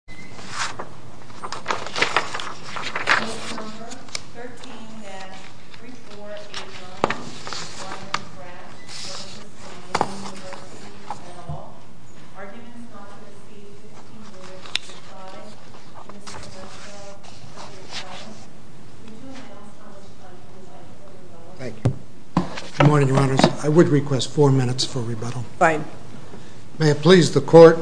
Hall. Arguments on the receipt of $15,005, Mr. Professor, Mr. President, would you allow Mr. President to advise for rebuttal? Thank you. Good morning, Your Honors. I would request four minutes for rebuttal. Fine. May it please the Court,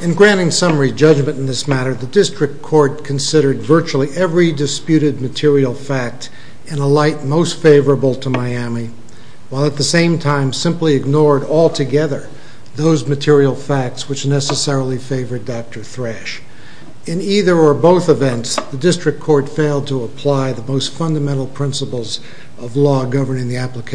in granting some preliminary judgment in this matter, the District Court considered virtually every disputed material fact in a light most favorable to Miami, while at the same time simply ignored altogether those material facts which necessarily favored Dr. Thrash. In either or both events, the District Court failed to apply the most fundamental principles of law governing the District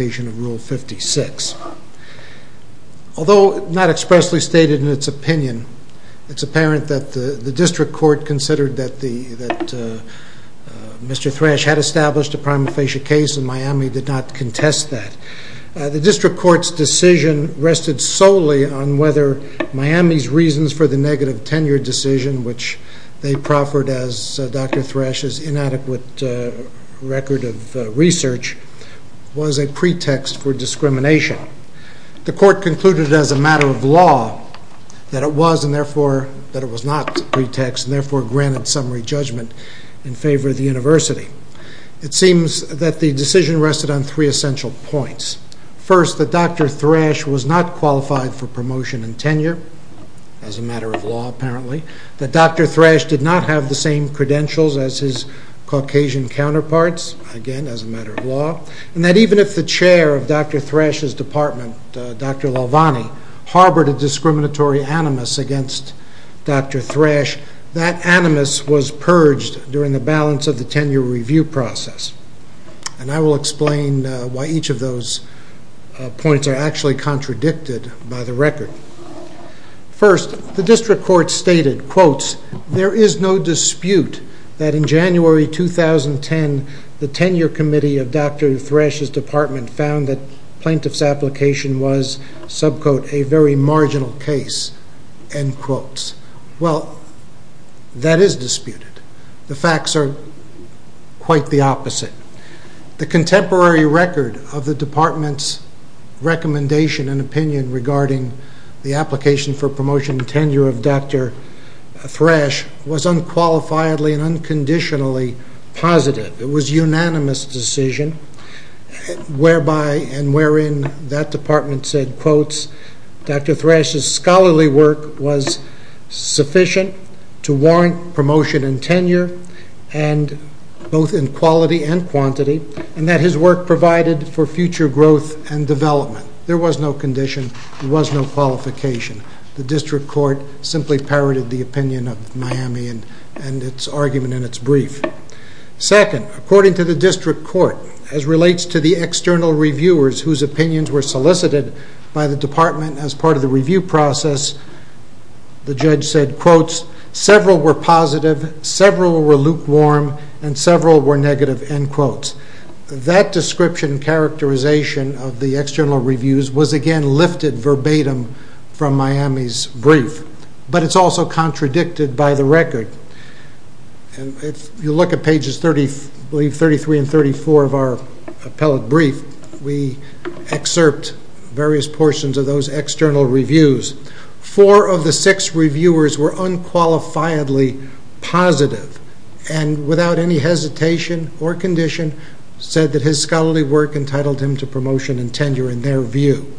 Court's decision rested solely on whether Miami's reasons for the negative tenure decision, which they proffered as Dr. Thrash's inadequate record of research, was a pretext for discrimination. The Court concluded as a matter of law that it was and therefore granted summary judgment in favor of the University. It seems that the decision rested on three essential points. First, that Dr. Thrash was not qualified for promotion and tenure, as a matter of law apparently. That Dr. Thrash did not have the same credentials as his Caucasian counterparts, again as a matter of law. And that even if the chair of Dr. Thrash's department, Dr. Lovanni, harbored a discriminatory animus against Dr. Thrash, that animus was purged during the balance of the tenure review process. And I will explain why each of those points are actually contradicted by the record. First, the District Court stated, quotes, there is no dispute that in January 2010, the tenure committee of Dr. Thrash's department found that plaintiff's application was, sub-quote, a very marginal case, end quotes. Well, that is disputed. The facts are quite the opposite. The contemporary record of the department's recommendation and opinion regarding the application for promotion and tenure of Dr. Thrash was unqualifiedly and unconditionally positive. It was a unanimous decision, whereby and wherein that department said, quotes, Dr. Thrash's scholarly work was sufficient to warrant promotion and tenure, both in quality and quantity, and that his work provided for future growth and development. There was no condition. There was no qualification. The District Court simply parroted the opinion of Miami and its argument and its brief. Second, according to the District Court, as relates to the external reviewers whose opinions were solicited by the department as part of the review process, the judge said, quotes, several were positive, several were lukewarm, and several were negative, end quotes. That description characterization of the external reviews was again lifted verbatim from Miami's also contradicted by the record. If you look at pages 33 and 34 of our appellate brief, we excerpt various portions of those external reviews. Four of the six reviewers were unqualifiedly positive and without any hesitation or condition said that his scholarly work entitled him to promotion and tenure in their view.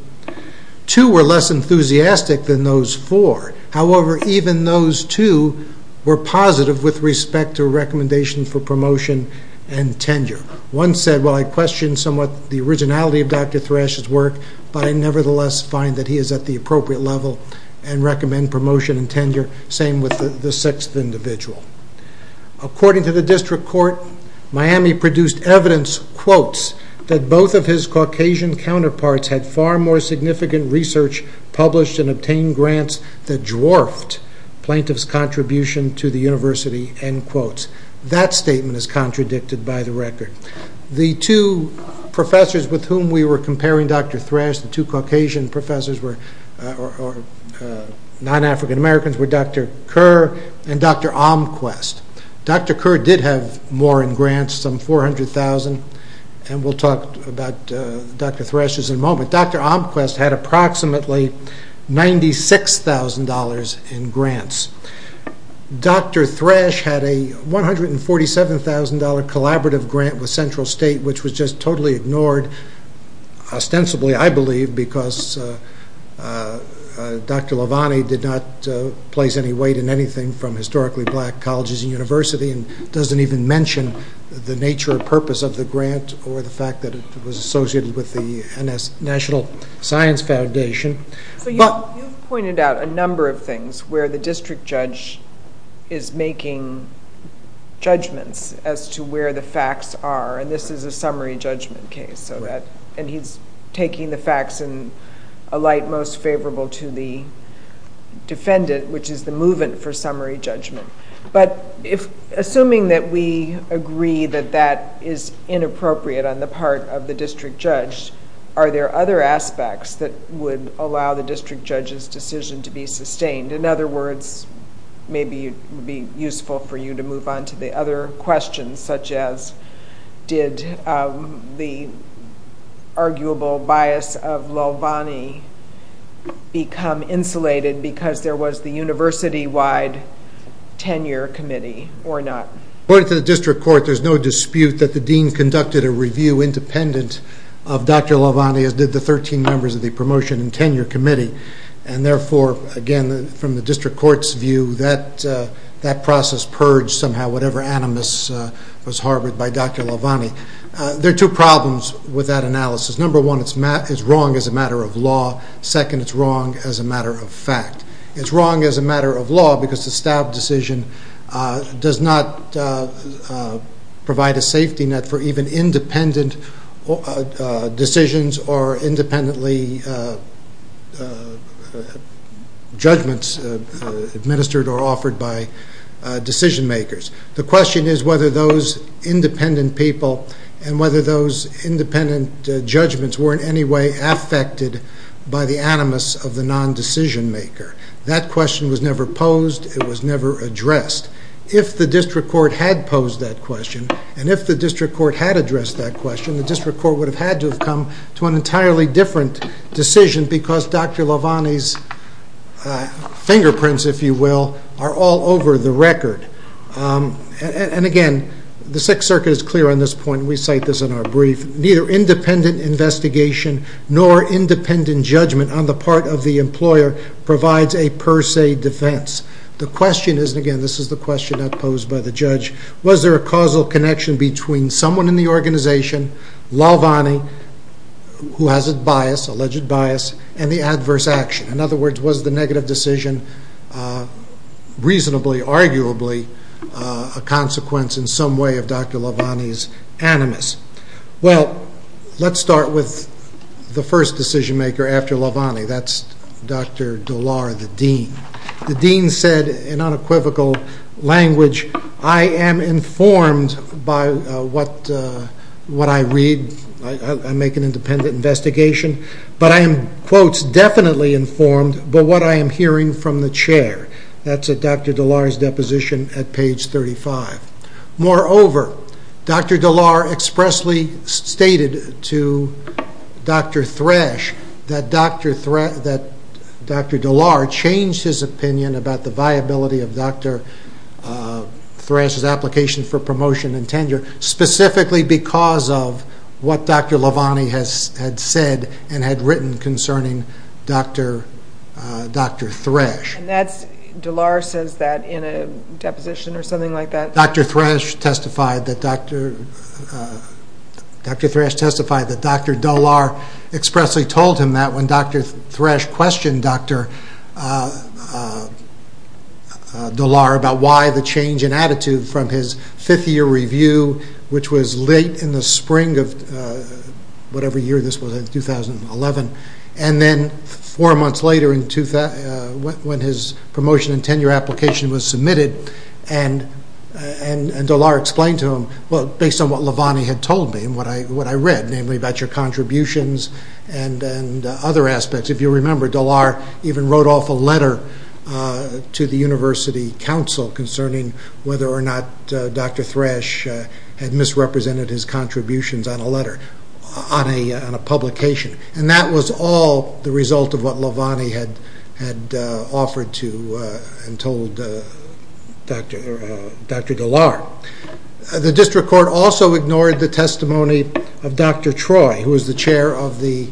Two were less enthusiastic than those four. However, even those two were positive with respect to recommendation for promotion and tenure. One said, well, I question somewhat the originality of Dr. Thrash's work, but I nevertheless find that he is at the appropriate level and recommend promotion and tenure, same with the sixth individual. According to the District Court, Miami produced evidence, quotes, that both of his Caucasian counterparts had far more significant research published and obtained grants that dwarfed plaintiff's contribution to the university, end quotes. That statement is contradicted by the record. The two professors with whom we were comparing Dr. Thrash, the two Caucasian professors, or non-African Americans, were Dr. Kerr and Dr. Omquist. Dr. Kerr did have more in grants, some 400,000, and we'll talk about Dr. Thrash's in a moment. Dr. Omquist had approximately $96,000 in grants. Dr. Thrash had a $147,000 collaborative grant with Central State, which was just totally ignored, ostensibly, I believe, because Dr. Levani did not place any weight in anything from historically black colleges and universities and doesn't even mention the nature or purpose of the grant or the fact that it was associated with the National Science Foundation. You've pointed out a number of things where the district judge is making judgments as to where the facts are, and this is a summary judgment case, and he's taking the facts in a light most favorable to the defendant, which is the movement for summary judgment. Assuming that we agree that that is inappropriate on the part of the district judge, are there other aspects that would allow the district judge's decision to be sustained? In other words, maybe it would be useful for you to move on to the other questions, such as did the arguable bias of Levani become insulated because there was the university-wide tenure committee or not? According to the district court, there's no dispute that the dean conducted a review independent of Dr. Levani as did the 13 members of the promotion and tenure committee, and therefore, again, from the district court's view, that process purged somehow whatever animus was harbored by Dr. Levani. There are two problems with that analysis. Number one, it's wrong as a matter of law. Second, it's wrong as a matter of fact. It's wrong as a matter of does not provide a safety net for even independent decisions or independently judgments administered or offered by decision makers. The question is whether those independent people and whether those independent judgments were in any way affected by the animus of the non-decision maker. That question was never posed. It was never addressed. If the district court had posed that question and if the district court had addressed that question, the district court would have had to have come to an entirely different decision because Dr. Levani's fingerprints, if you will, are all over the record. Again, the Sixth Circuit is clear on this point. We cite this in our brief. Neither independent investigation nor independent judgment on the part of the employer provides a per se defense. The question is, and again, this is the question that was posed by the judge, was there a causal connection between someone in the organization, Levani, who has alleged bias, and the adverse action? In other words, was the negative decision reasonably, arguably, a consequence in some way of Dr. Levani's animus? Well, let's start with the first decision maker after Levani. That's Dr. Dallar, the dean. The dean said in unequivocal language, I am informed by what I read. I make an independent investigation, but I am, quotes, definitely informed by what I am hearing from the chair. That's at Dr. Dallar's deposition at page 35. Moreover, Dr. Dallar expressly stated to Dr. Thrash that Dr. Dallar changed his opinion about the viability of Dr. Thrash's application for promotion and tenure, specifically because of what Dr. Levani had said and had concerning Dr. Thrash. And that's, Dallar says that in a deposition or something like that. Dr. Thrash testified that Dr. Dallar expressly told him that when Dr. Thrash questioned Dr. Dallar about why the change in attitude from his fifth year review, which was late in the spring of 2011, and then four months later when his promotion and tenure application was submitted, and Dallar explained to him, based on what Levani had told me and what I read, namely about your contributions and other aspects. If you remember, Dallar even wrote off a letter to the university council concerning whether or not Dr. Thrash had misrepresented his contributions on a letter, on a publication. And that was all the result of what Levani had offered to and told Dr. Dallar. The district court also ignored the testimony of Dr. Troy, who was the chair of the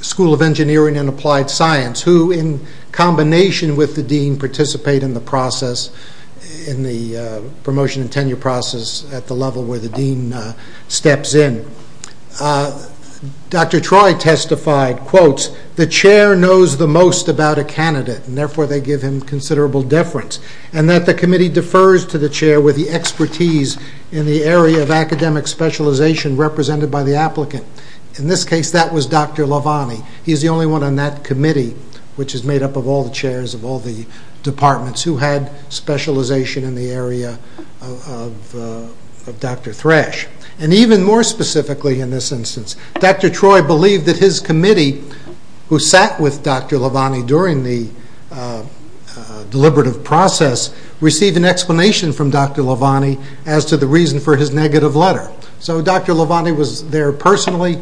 School of Engineering and Applied Science, who in combination with the dean participate in the process, in the promotion and tenure process at the level where the dean steps in. Dr. Troy testified, quote, the chair knows the most about a candidate, and therefore they give him considerable deference, and that the committee defers to the chair with the expertise in the area of academic specialization represented by the applicant. In this case, that was Dr. Levani. He is the only one on that committee, which is made up of all the chairs of all the departments who had specialization in the area of Dr. Thrash. And even more specifically in this instance, Dr. Troy believed that his committee, who sat with Dr. Levani during the deliberative process, received an explanation from Dr. Levani as to the reason for his negative letter. So Dr. Levani was there personally,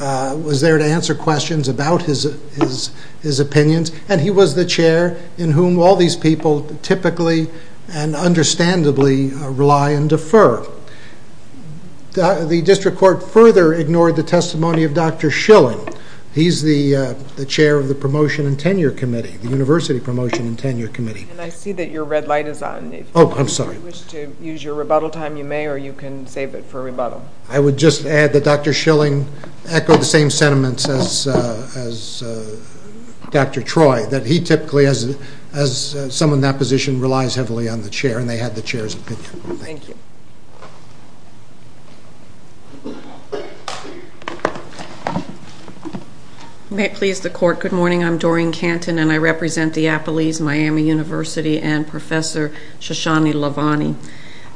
was there to answer questions about his opinions, and he was the chair in whom all these people typically and understandably rely and defer. The district court further ignored the testimony of Dr. Schilling. He is the chair of the promotion and tenure committee, the university promotion and tenure committee. And I see that your red light is on. Oh, I'm sorry. If you wish to use your rebuttal time, you may, or you can save it for rebuttal. I would just add that Dr. Schilling echoed the same sentiments as Dr. Troy, that he typically as someone in that position relies heavily on the chair, and they had the chair's opinion. May it please the court, good morning. I'm Doreen Canton, and I represent the Appalese Miami University and Professor Shoshani Levani.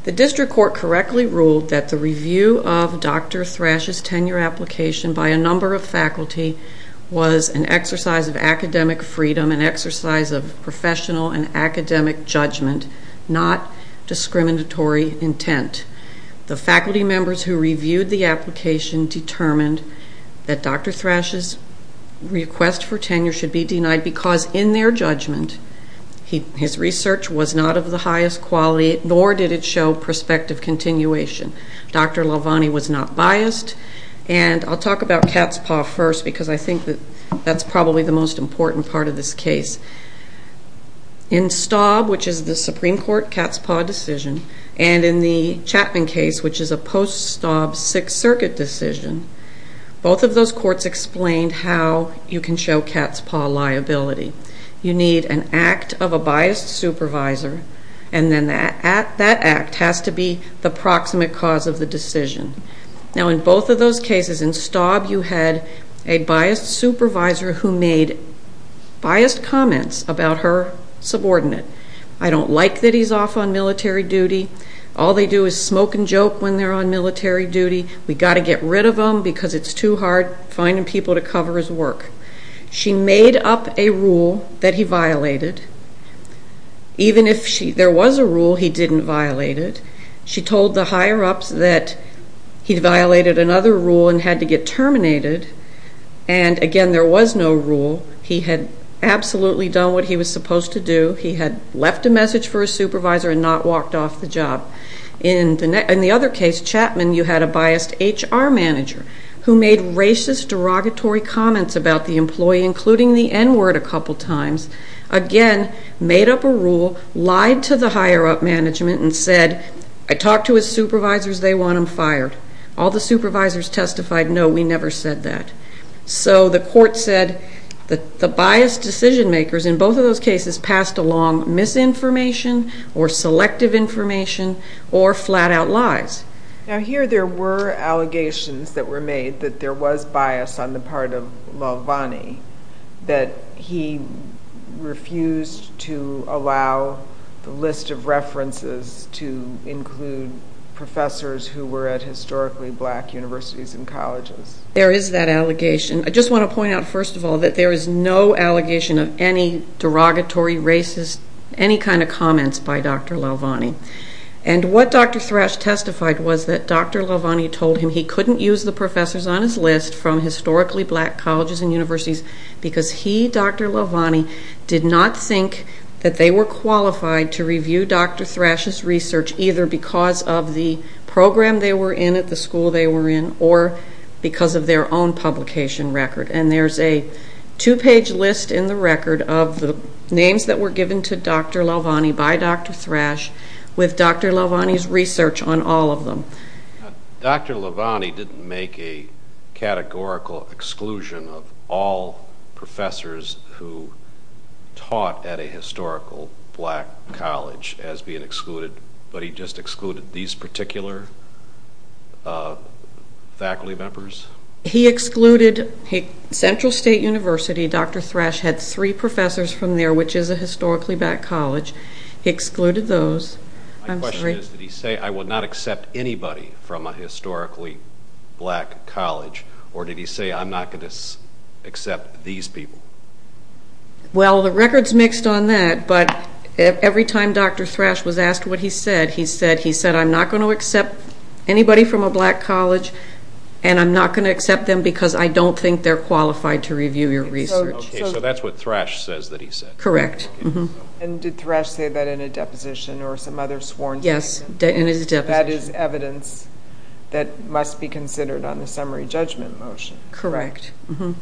The district court correctly ruled that the review of Dr. Thrash's tenure application by a number of faculty was an exercise of professional and academic judgment, not discriminatory intent. The faculty members who reviewed the application determined that Dr. Thrash's request for tenure should be denied, because in their judgment his research was not of the highest quality, nor did it show prospective continuation. Dr. Levani was not biased, and I'll talk about cat's paw first, because I think that's probably the most important part of this case. In Staub, which is the Supreme Court cat's paw decision, and in the Chapman case, which is a post-Staub Sixth Circuit decision, both of those courts explained how you can show cat's paw liability. You need an act of a biased supervisor, and then that act has to be the proximate cause of the decision. Now in both of those cases, in Staub you had a biased supervisor who made biased comments about her subordinate. I don't like that he's off on military duty. All they do is smoke and joke when they're on military duty. We've got to get rid of him because it's too hard finding people to cover his work. She made up a rule that he violated. Even if there was a rule he didn't violate, she told the higher-ups that he violated another rule and had to get terminated. And again, there was no rule. He had absolutely done what he was supposed to do. He had left a message for a supervisor and not walked off the job. In the other case, Chapman, you had a biased HR manager who made racist, derogatory comments about the employee, including the employee, and said, I talked to his supervisors, they want him fired. All the supervisors testified, no, we never said that. So the court said that the biased decision-makers in both of those cases passed along misinformation or selective information or flat-out lies. Now here there were allegations that were made that there was bias on the part of Lovanni that he refused to allow the list of references to include professors who were at historically black universities and colleges. There is that allegation. I just want to point out, first of all, that there is no allegation of any derogatory, racist, any kind of comments by Dr. Lovanni. And what Dr. Thrash testified was that Dr. Lovanni told him he couldn't use the professors on his list from historically black colleges and universities because he, Dr. Lovanni, did not think that they were qualified to review Dr. Thrash's research either because of the program they were in at the school they were in or because of their own publication record. And there's a two-page list in the record of the names that were given to Dr. Lovanni by Dr. Thrash with Dr. Lovanni's research on all of them. Dr. Lovanni didn't make a categorical exclusion of all professors who taught at a historical black college as being excluded, but he just excluded these particular faculty members? He excluded Central State University. Dr. Thrash had three professors from there, which is a historically black college. He excluded those. My question is, did he say, I will not accept anybody from a historically black college, or did he say, I'm not going to accept these people? Well, the record's mixed on that, but every time Dr. Thrash was asked what he said, he said, he said, I'm not going to accept anybody from a black college, and I'm not going to accept them because I don't think they're qualified to review your research. Okay, so that's what Thrash says that he said. Correct. And did Thrash say that in a deposition or some other sworn statement? Yes, in his deposition. That is evidence that must be considered on the summary judgment motion. Correct. The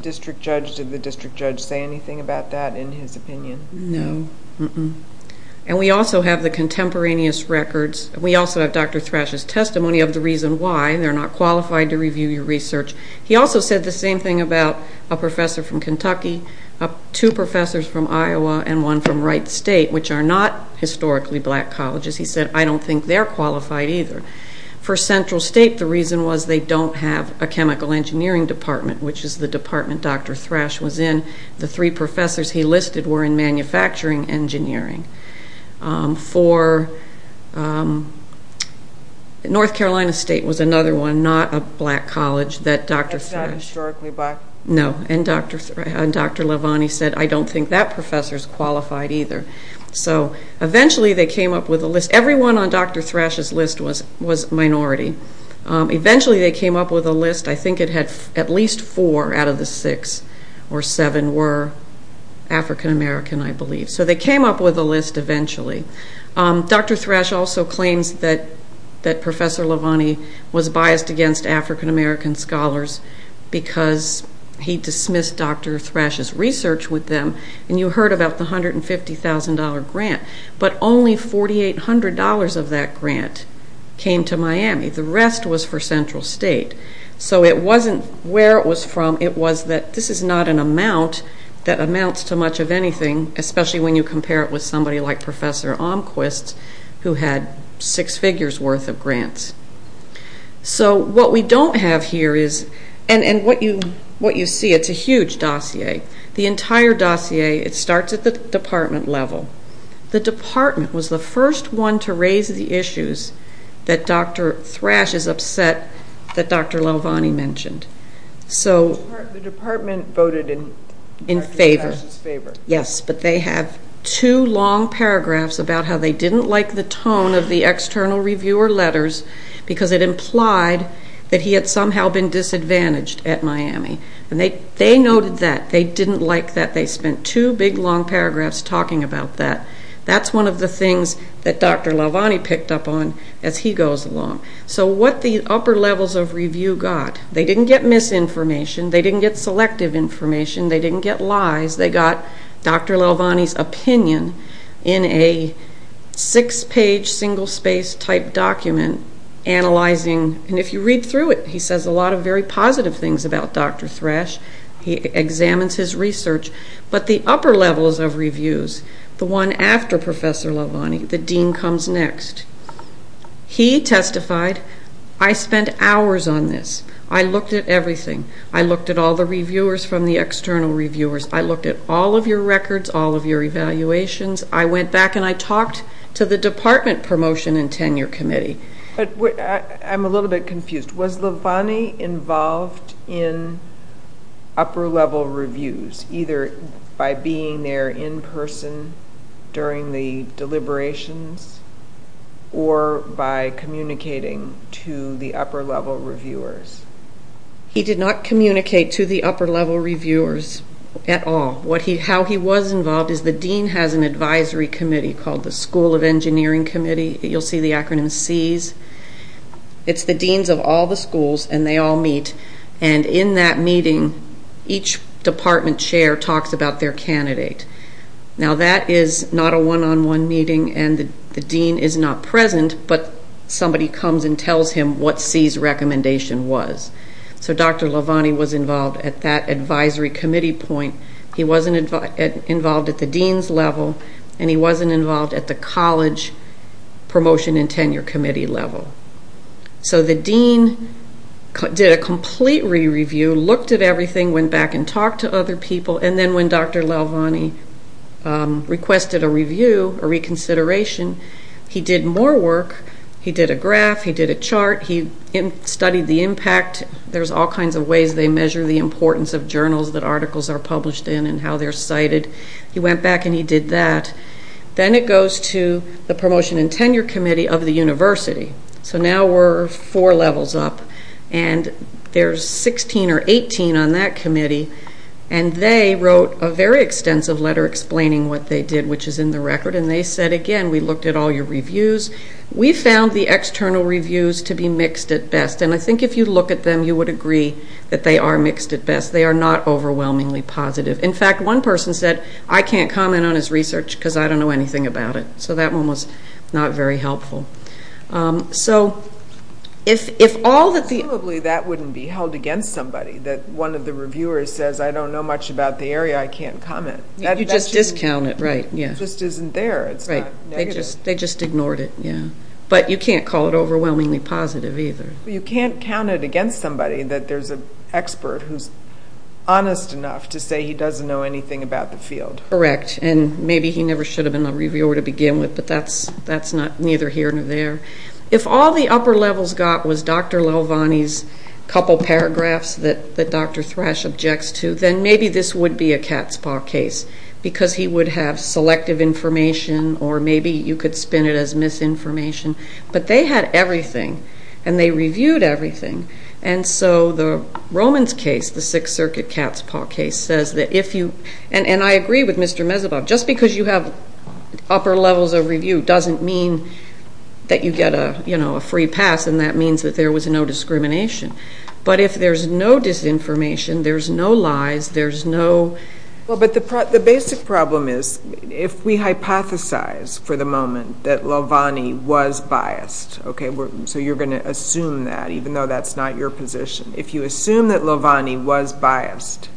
district judge, did the district judge say anything about that in his opinion? No. And we also have the contemporaneous records. We also have Dr. Thrash's testimony of the reason why they're not qualified to review your research. He also said the same thing about a professor from Kentucky, two professors from Iowa, and one from Wright State, which are not historically black colleges. He said, I don't think they're qualified either. For Central State, the reason was they don't have a chemical engineering department, which is the department Dr. Thrash was in. The three professors he listed were in manufacturing engineering. For North Carolina State was another one, not a black college that Dr. Thrash, no, and Dr. Levani said, I don't think that professor's qualified either. So eventually they came up with a list. Everyone on Dr. Thrash's list was minority. Eventually they came up with a list. I think it had at least four out of the six or seven were African-American, I believe. So they came up with a list eventually. Dr. Thrash also claims that Professor Levani was biased against African-American scholars because he dismissed Dr. Thrash's research with them. You heard about the $150,000 grant, but only $4,800 of that grant came to Miami. The rest was for Central State. So it wasn't where it was from, it was that this is not an amount that amounts to much of anything, especially when you compare it with somebody like Professor Omquist who had six figures worth of grants. So what we don't have here is, and what you see, it's a huge dossier. The entire dossier, it starts at the department level. The department was the first one to raise the issues that Dr. Thrash is upset that Dr. Levani mentioned. The department voted in Dr. Thrash's favor. Yes, but they have two long paragraphs about how they didn't like the tone of the external reviewer letters because it implied that he had somehow been disadvantaged at Miami. They noted that. They didn't like that. They spent two big long paragraphs talking about that. That's one of the things that Dr. Levani picked up on as he goes along. So what the upper levels of review got, they didn't get misinformation, they didn't get selective information, they got Dr. Levani's opinion in a six-page single-space type document analyzing, and if you read through it, he says a lot of very positive things about Dr. Thrash. He examines his research, but the upper levels of reviews, the one after Professor Levani, the dean comes next. He testified, I spent hours on this. I looked at everything. I looked at all the reviewers from the external reviewers. I looked at all of your records, all of your evaluations. I went back and I talked to the department promotion and tenure committee. I'm a little bit confused. Was Levani involved in upper level reviews, either by being there in person during the deliberations or by communicating to the upper level reviewers? He did not communicate to the upper level reviewers at all. How he was involved is the dean has an advisory committee called the School of Engineering Committee. You'll see the acronym SEES. It's the deans of all the schools and they all meet, and in that meeting each department chair talks about their candidate. Now that is not a one-on-one meeting and the dean was. So Dr. Levani was involved at that advisory committee point. He wasn't involved at the dean's level and he wasn't involved at the college promotion and tenure committee level. So the dean did a complete re-review, looked at everything, went back and talked to other people, and then when Dr. Levani requested a review, a reconsideration, he did more work. He did a graph, he did a chart, he studied the impact. There's all kinds of ways they measure the importance of journals that articles are published in and how they're cited. He went back and he did that. Then it goes to the promotion and tenure committee of the university. So now we're four levels up and there's 16 or 18 on that committee and they wrote a very extensive letter explaining what they did, which is in the record, and they said, again, we looked at all your reviews. We found the external reviews to be mixed at best, and I think if you look at them you would agree that they are mixed at best. They are not overwhelmingly positive. In fact, one person said, I can't comment on his research because I don't know anything about it. So that one was not very helpful. Absolutely, that wouldn't be held against somebody, that one of the reviewers says, I don't know much about the area, I can't comment. You just discount it, right, yeah. It just isn't there, it's not negative. They just ignored it, yeah. But you can't call it overwhelmingly positive either. You can't count it against somebody that there's an expert who's honest enough to say he doesn't know anything about the field. Correct, and maybe he never should have been a reviewer to begin with, but that's neither here nor there. If all the upper levels got was Dr. Lelvani's couple paragraphs that Dr. Katzpah case, because he would have selective information, or maybe you could spin it as misinformation, but they had everything, and they reviewed everything, and so the Romans case, the Sixth Circuit Katzpah case, says that if you, and I agree with Mr. Mezeboff, just because you have upper levels of review doesn't mean that you get a free pass and that means that there was no discrimination, but if there's no disinformation, there's no lies, there's no... But the basic problem is, if we hypothesize for the moment that Lelvani was biased, okay, so you're going to assume that, even though that's not your position. If you assume that Lelvani was biased,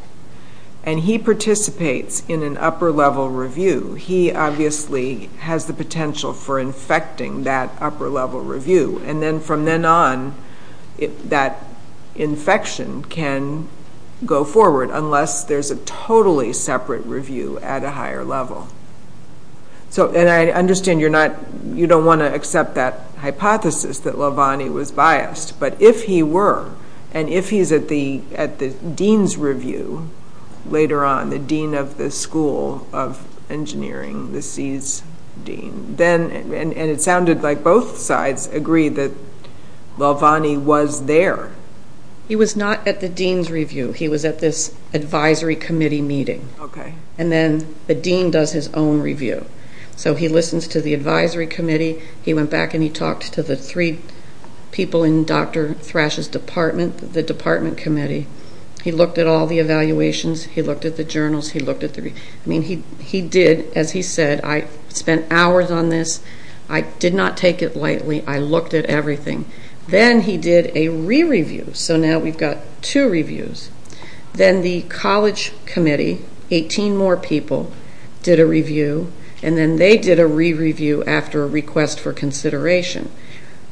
and he participates in an upper level review, he obviously has the potential for infecting that upper level review, and then from then on, that infection can go forward, unless there's a totally separate review at a higher level. And I understand you're not, you don't want to accept that hypothesis that Lelvani was biased, but if he were, and if he's at the dean's review later on, the dean of the school of engineering, the SEAS dean, and it sounded like both sides agreed that Lelvani was there. He was not at the dean's review, he was at this advisory committee meeting, and then the dean does his own review. So he listens to the advisory committee, he went back and he talked to the three people in Dr. Thrash's department, the department committee, he looked at all the evaluations, he looked at the journals, he looked at the, I mean, he did, as he said, I spent hours on this, I did not take it lightly, I looked at everything. Then he did a re-review so now we've got two reviews. Then the college committee, 18 more people, did a review, and then they did a re-review after a request for consideration.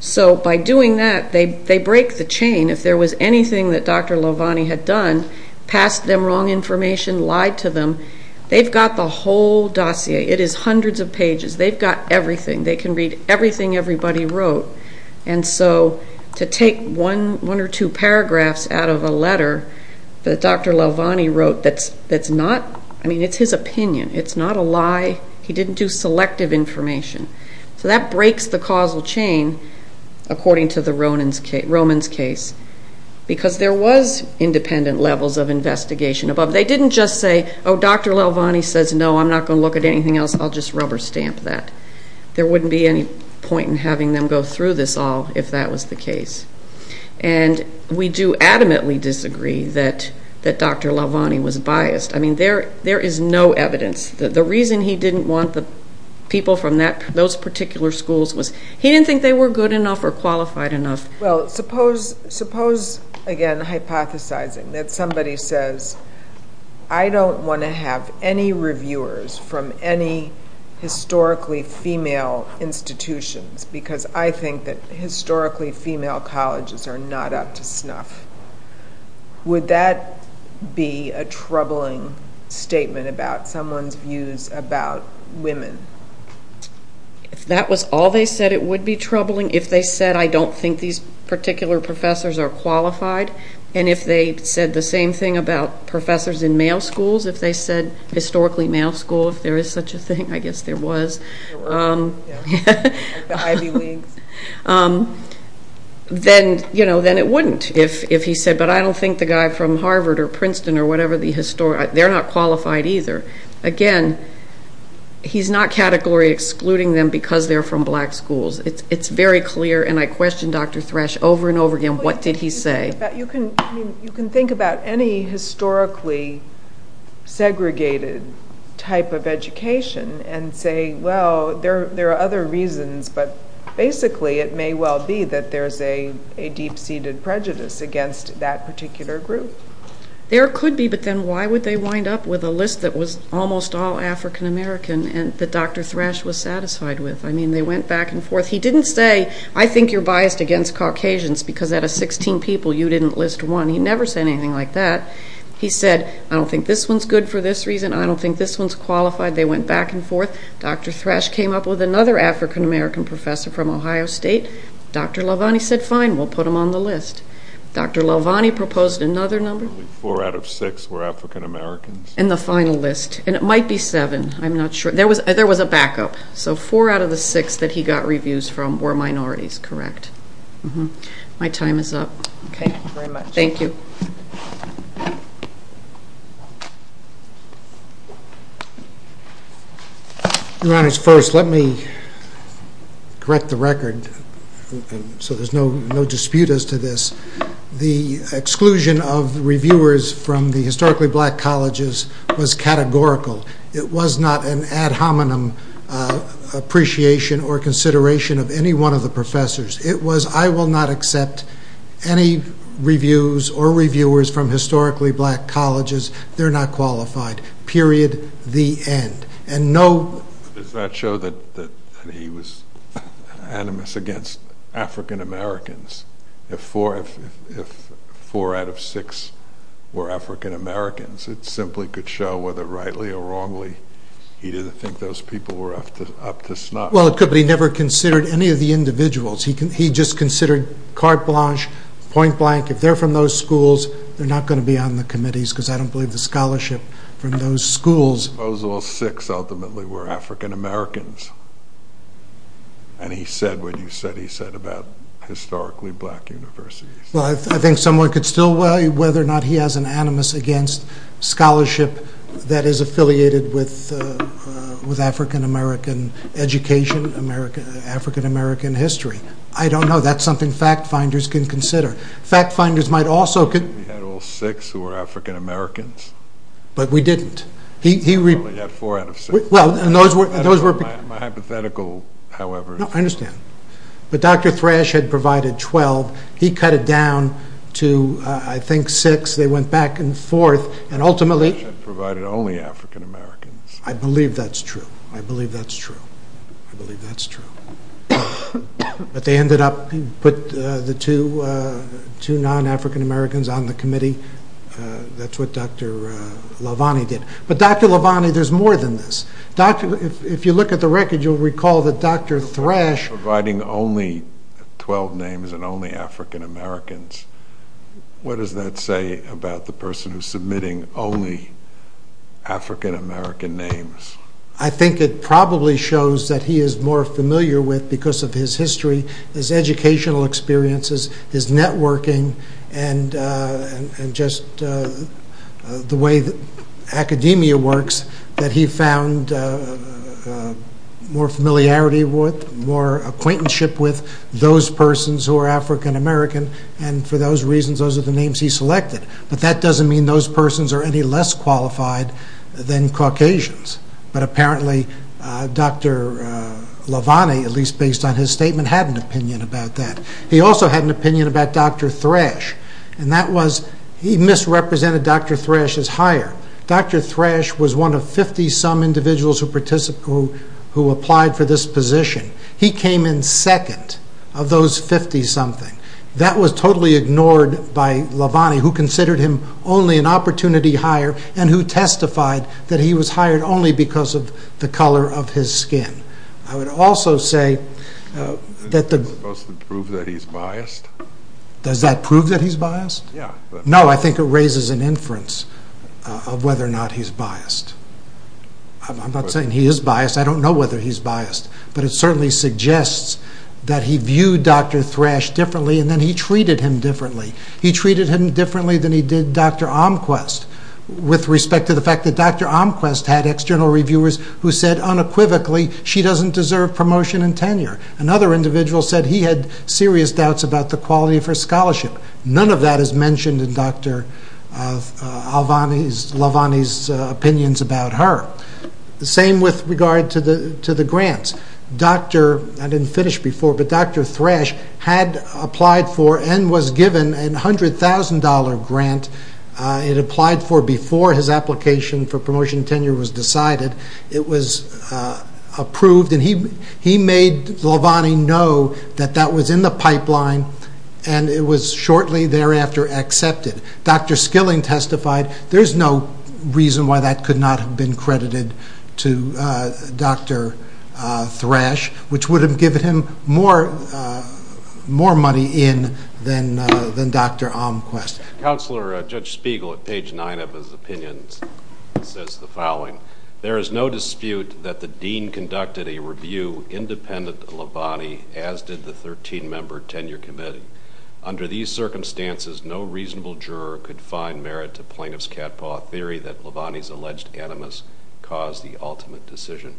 So by doing that, they break the chain, if there was anything that Dr. Lelvani had done, passed them wrong information, lied to them, they've got the whole dossier, it is hundreds of pages, they've got everything, they can read everything everybody wrote, and so to take one or two paragraphs out of a letter that Dr. Lelvani wrote that's not, I mean, it's his opinion, it's not a lie, he didn't do selective information. So that breaks the causal chain, according to the Roman's case, because there was independent levels of investigation, but they didn't just say, oh, Dr. Lelvani says no, I'm not going to look at anything else, I'll just rubber stamp that. There wouldn't be any point in having them go through this all if that was the case. And we do adamantly disagree that Dr. Lelvani was biased. I mean, there is no evidence. The reason he didn't want the people from those particular schools was he didn't think they were good enough or qualified enough. Well, suppose, again, hypothesizing that somebody says, I don't want to have any reviewers from any historically female institutions, because I think that historically female colleges are not up to snuff. Would that be a troubling statement about someone's views about women? If that was all they said, it would be troubling. If they said, I don't think these particular professors are qualified, and if they said the same thing about professors in male schools, if they said historically male schools, if there is such a thing, I guess there was, then it wouldn't. If he said, but I don't think the guy from Harvard or Princeton or whatever, they're not qualified either. Again, he's not category excluding them because they're from black schools. It's very clear, and I question Dr. Thrash over and over again, what did he say? You can think about any historically segregated type of education and say, well, there are other reasons, but basically it may well be that there's a deep-seated prejudice against that particular group. There could be, but then why would they wind up with a list that was almost all African American and that Dr. Thrash was satisfied with? I mean, they went back and forth. He said, out of 16 people, you didn't list one. He never said anything like that. He said, I don't think this one's good for this reason. I don't think this one's qualified. They went back and forth. Dr. Thrash came up with another African American professor from Ohio State. Dr. Lovanni said, fine, we'll put him on the list. Dr. Lovanni proposed another number. Probably four out of six were African Americans. And the final list, and it might be seven. I'm not sure. There was a backup, so four out of the six that he got reviews from were minorities, correct? My time is up. Okay, thank you very much. Your Honor, first, let me correct the record so there's no dispute as to this. The exclusion of reviewers from the historically black colleges was categorical. It was not an ad hominem appreciation or consideration of any one of the professors. It was, I will not accept any reviews or reviewers from historically black colleges. They're not qualified. Period. The end. Does that show that he was animus against African Americans? If four out of six were African Americans, it simply could show whether rightly or wrongly he didn't think those people were up to snuff. Well, it could, but he never considered any of the individuals. He just considered carte blanche, point blank. If they're from those schools, they're not going to be on the committees because I don't believe the scholarship from those schools. Those all six ultimately were African Americans. And he said what you said he said about historically black universities. Well, I think someone could still weigh whether or not he has an animus against scholarship that is affiliated with African American education, African American history. I don't know. That's something fact finders can consider. Fact finders might also could. He had all six who were African Americans. But we didn't. He probably had four out of six. Well, and those were. My hypothetical, however. No, I understand. But Dr. Thrash had provided 12. He cut it down to, I think, six. They went back and forth. And ultimately. Thrash had provided only African Americans. I believe that's true. I believe that's true. I believe that's true. But they ended up, put the two non-African Americans on the committee. That's what Dr. Lavani did. But Dr. Lavani, there's more than this. If you look at the record, you'll recall that Dr. Thrash. Providing only 12 names and only African Americans. What does that say about the person who's submitting only African American names? I think it probably shows that he is more familiar with, because of his history, his educational experiences, his networking, and just the way that academia works, that he is more acquainted with those persons who are African American. And for those reasons, those are the names he selected. But that doesn't mean those persons are any less qualified than Caucasians. But apparently, Dr. Lavani, at least based on his statement, had an opinion about that. He also had an opinion about Dr. Thrash. He misrepresented Dr. Thrash as higher. Dr. Thrash was one of 50-some individuals who applied for this position. He came in second of those 50-something. That was totally ignored by Lavani, who considered him only an opportunity hire, and who testified that he was hired only because of the color of his skin. Does that prove that he's biased? Does that prove that he's biased? No, I think it raises an inference of whether or not he's biased. I'm not saying he is biased. I don't know whether he's biased. But it certainly suggests that he viewed Dr. Thrash differently, and then he treated him differently. He treated him differently than he did Dr. Omquist, with respect to the fact that Dr. Omquist had external reviewers who said unequivocally, she doesn't deserve promotion and tenure. Another individual said he had serious doubts about the quality of her scholarship. None of that is mentioned in Dr. Lavani's opinions about her. Same with regard to the grants. I didn't finish before, but Dr. Thrash had applied for and was given a $100,000 grant. It applied for before his application for promotion and tenure was decided. It was approved, and he made Lavani know that that was in the pipeline, and it was shortly thereafter accepted. Dr. Skilling testified, there's no reason why that could not have been credited to Dr. Thrash, which would have given him more money in than Dr. Omquist. Counselor, Judge Spiegel, at page 9 of his opinions, says the following. There is no dispute that the dean conducted a review independent of Lavani, as did the 13-member tenure committee. Under these circumstances, no reasonable juror could find merit to plaintiff's catpaw theory that Lavani's alleged animus caused the ultimate decision.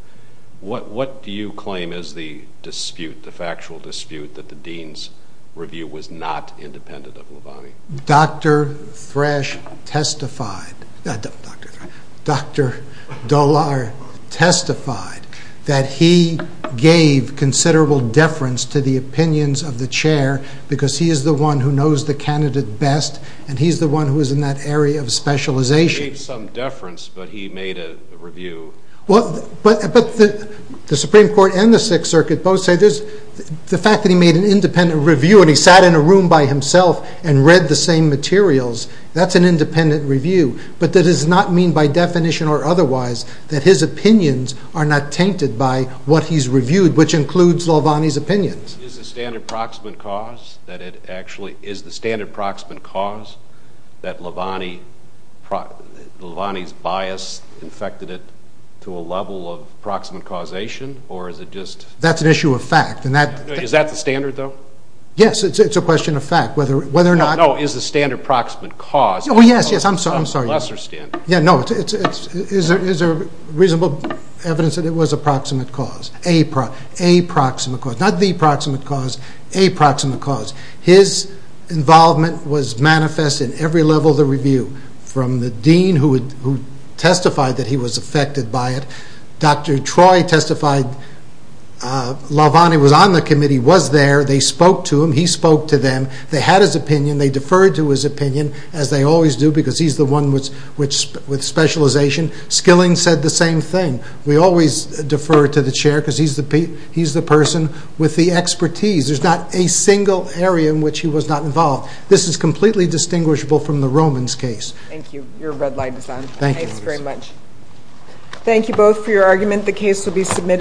What do you claim is the dispute, the factual dispute, that the dean's review was not independent of Lavani? Dr. Thrash testified, Dr. Dollar testified that he gave considerable deference to the opinions of the chair, because he is the one who knows the candidate best, and he's the one who is in that area of specialization. He gave some deference, but he made a review. But the Supreme Court and the Sixth Circuit both say the fact that he made an independent review and he sat in a room by himself and read the same materials, that's an independent review. But that does not mean by definition or otherwise that his opinions are not tainted by what he's reviewed, which includes Lavani's opinions. Is the standard proximate cause that Lavani's bias infected it to a level of proximate causation, or is it just... That's an issue of fact. Is that the standard, though? Yes, it's a question of fact, whether or not... No, is the standard proximate cause... Oh, yes, yes, I'm sorry. ...a lesser standard? Yeah, no, it's a reasonable evidence that it was a proximate cause, a proximate cause, not the proximate cause, a proximate cause. His involvement was manifest in every level of the review, from the dean who testified that he was affected by it. Dr. Troy testified, Lavani was on the committee, was there, they spoke to him, he spoke to them, they had his opinion, they deferred to his opinion, as they always do because he's the one with specialization. Skilling said the same thing, we always defer to the chair because he's the person with the expertise. There's not a single area in which he was not involved. This is completely distinguishable from the Roman's case. Thank you. Your red light is on. Thank you. Thanks very much. Thank you both for your argument. The case will be submitted...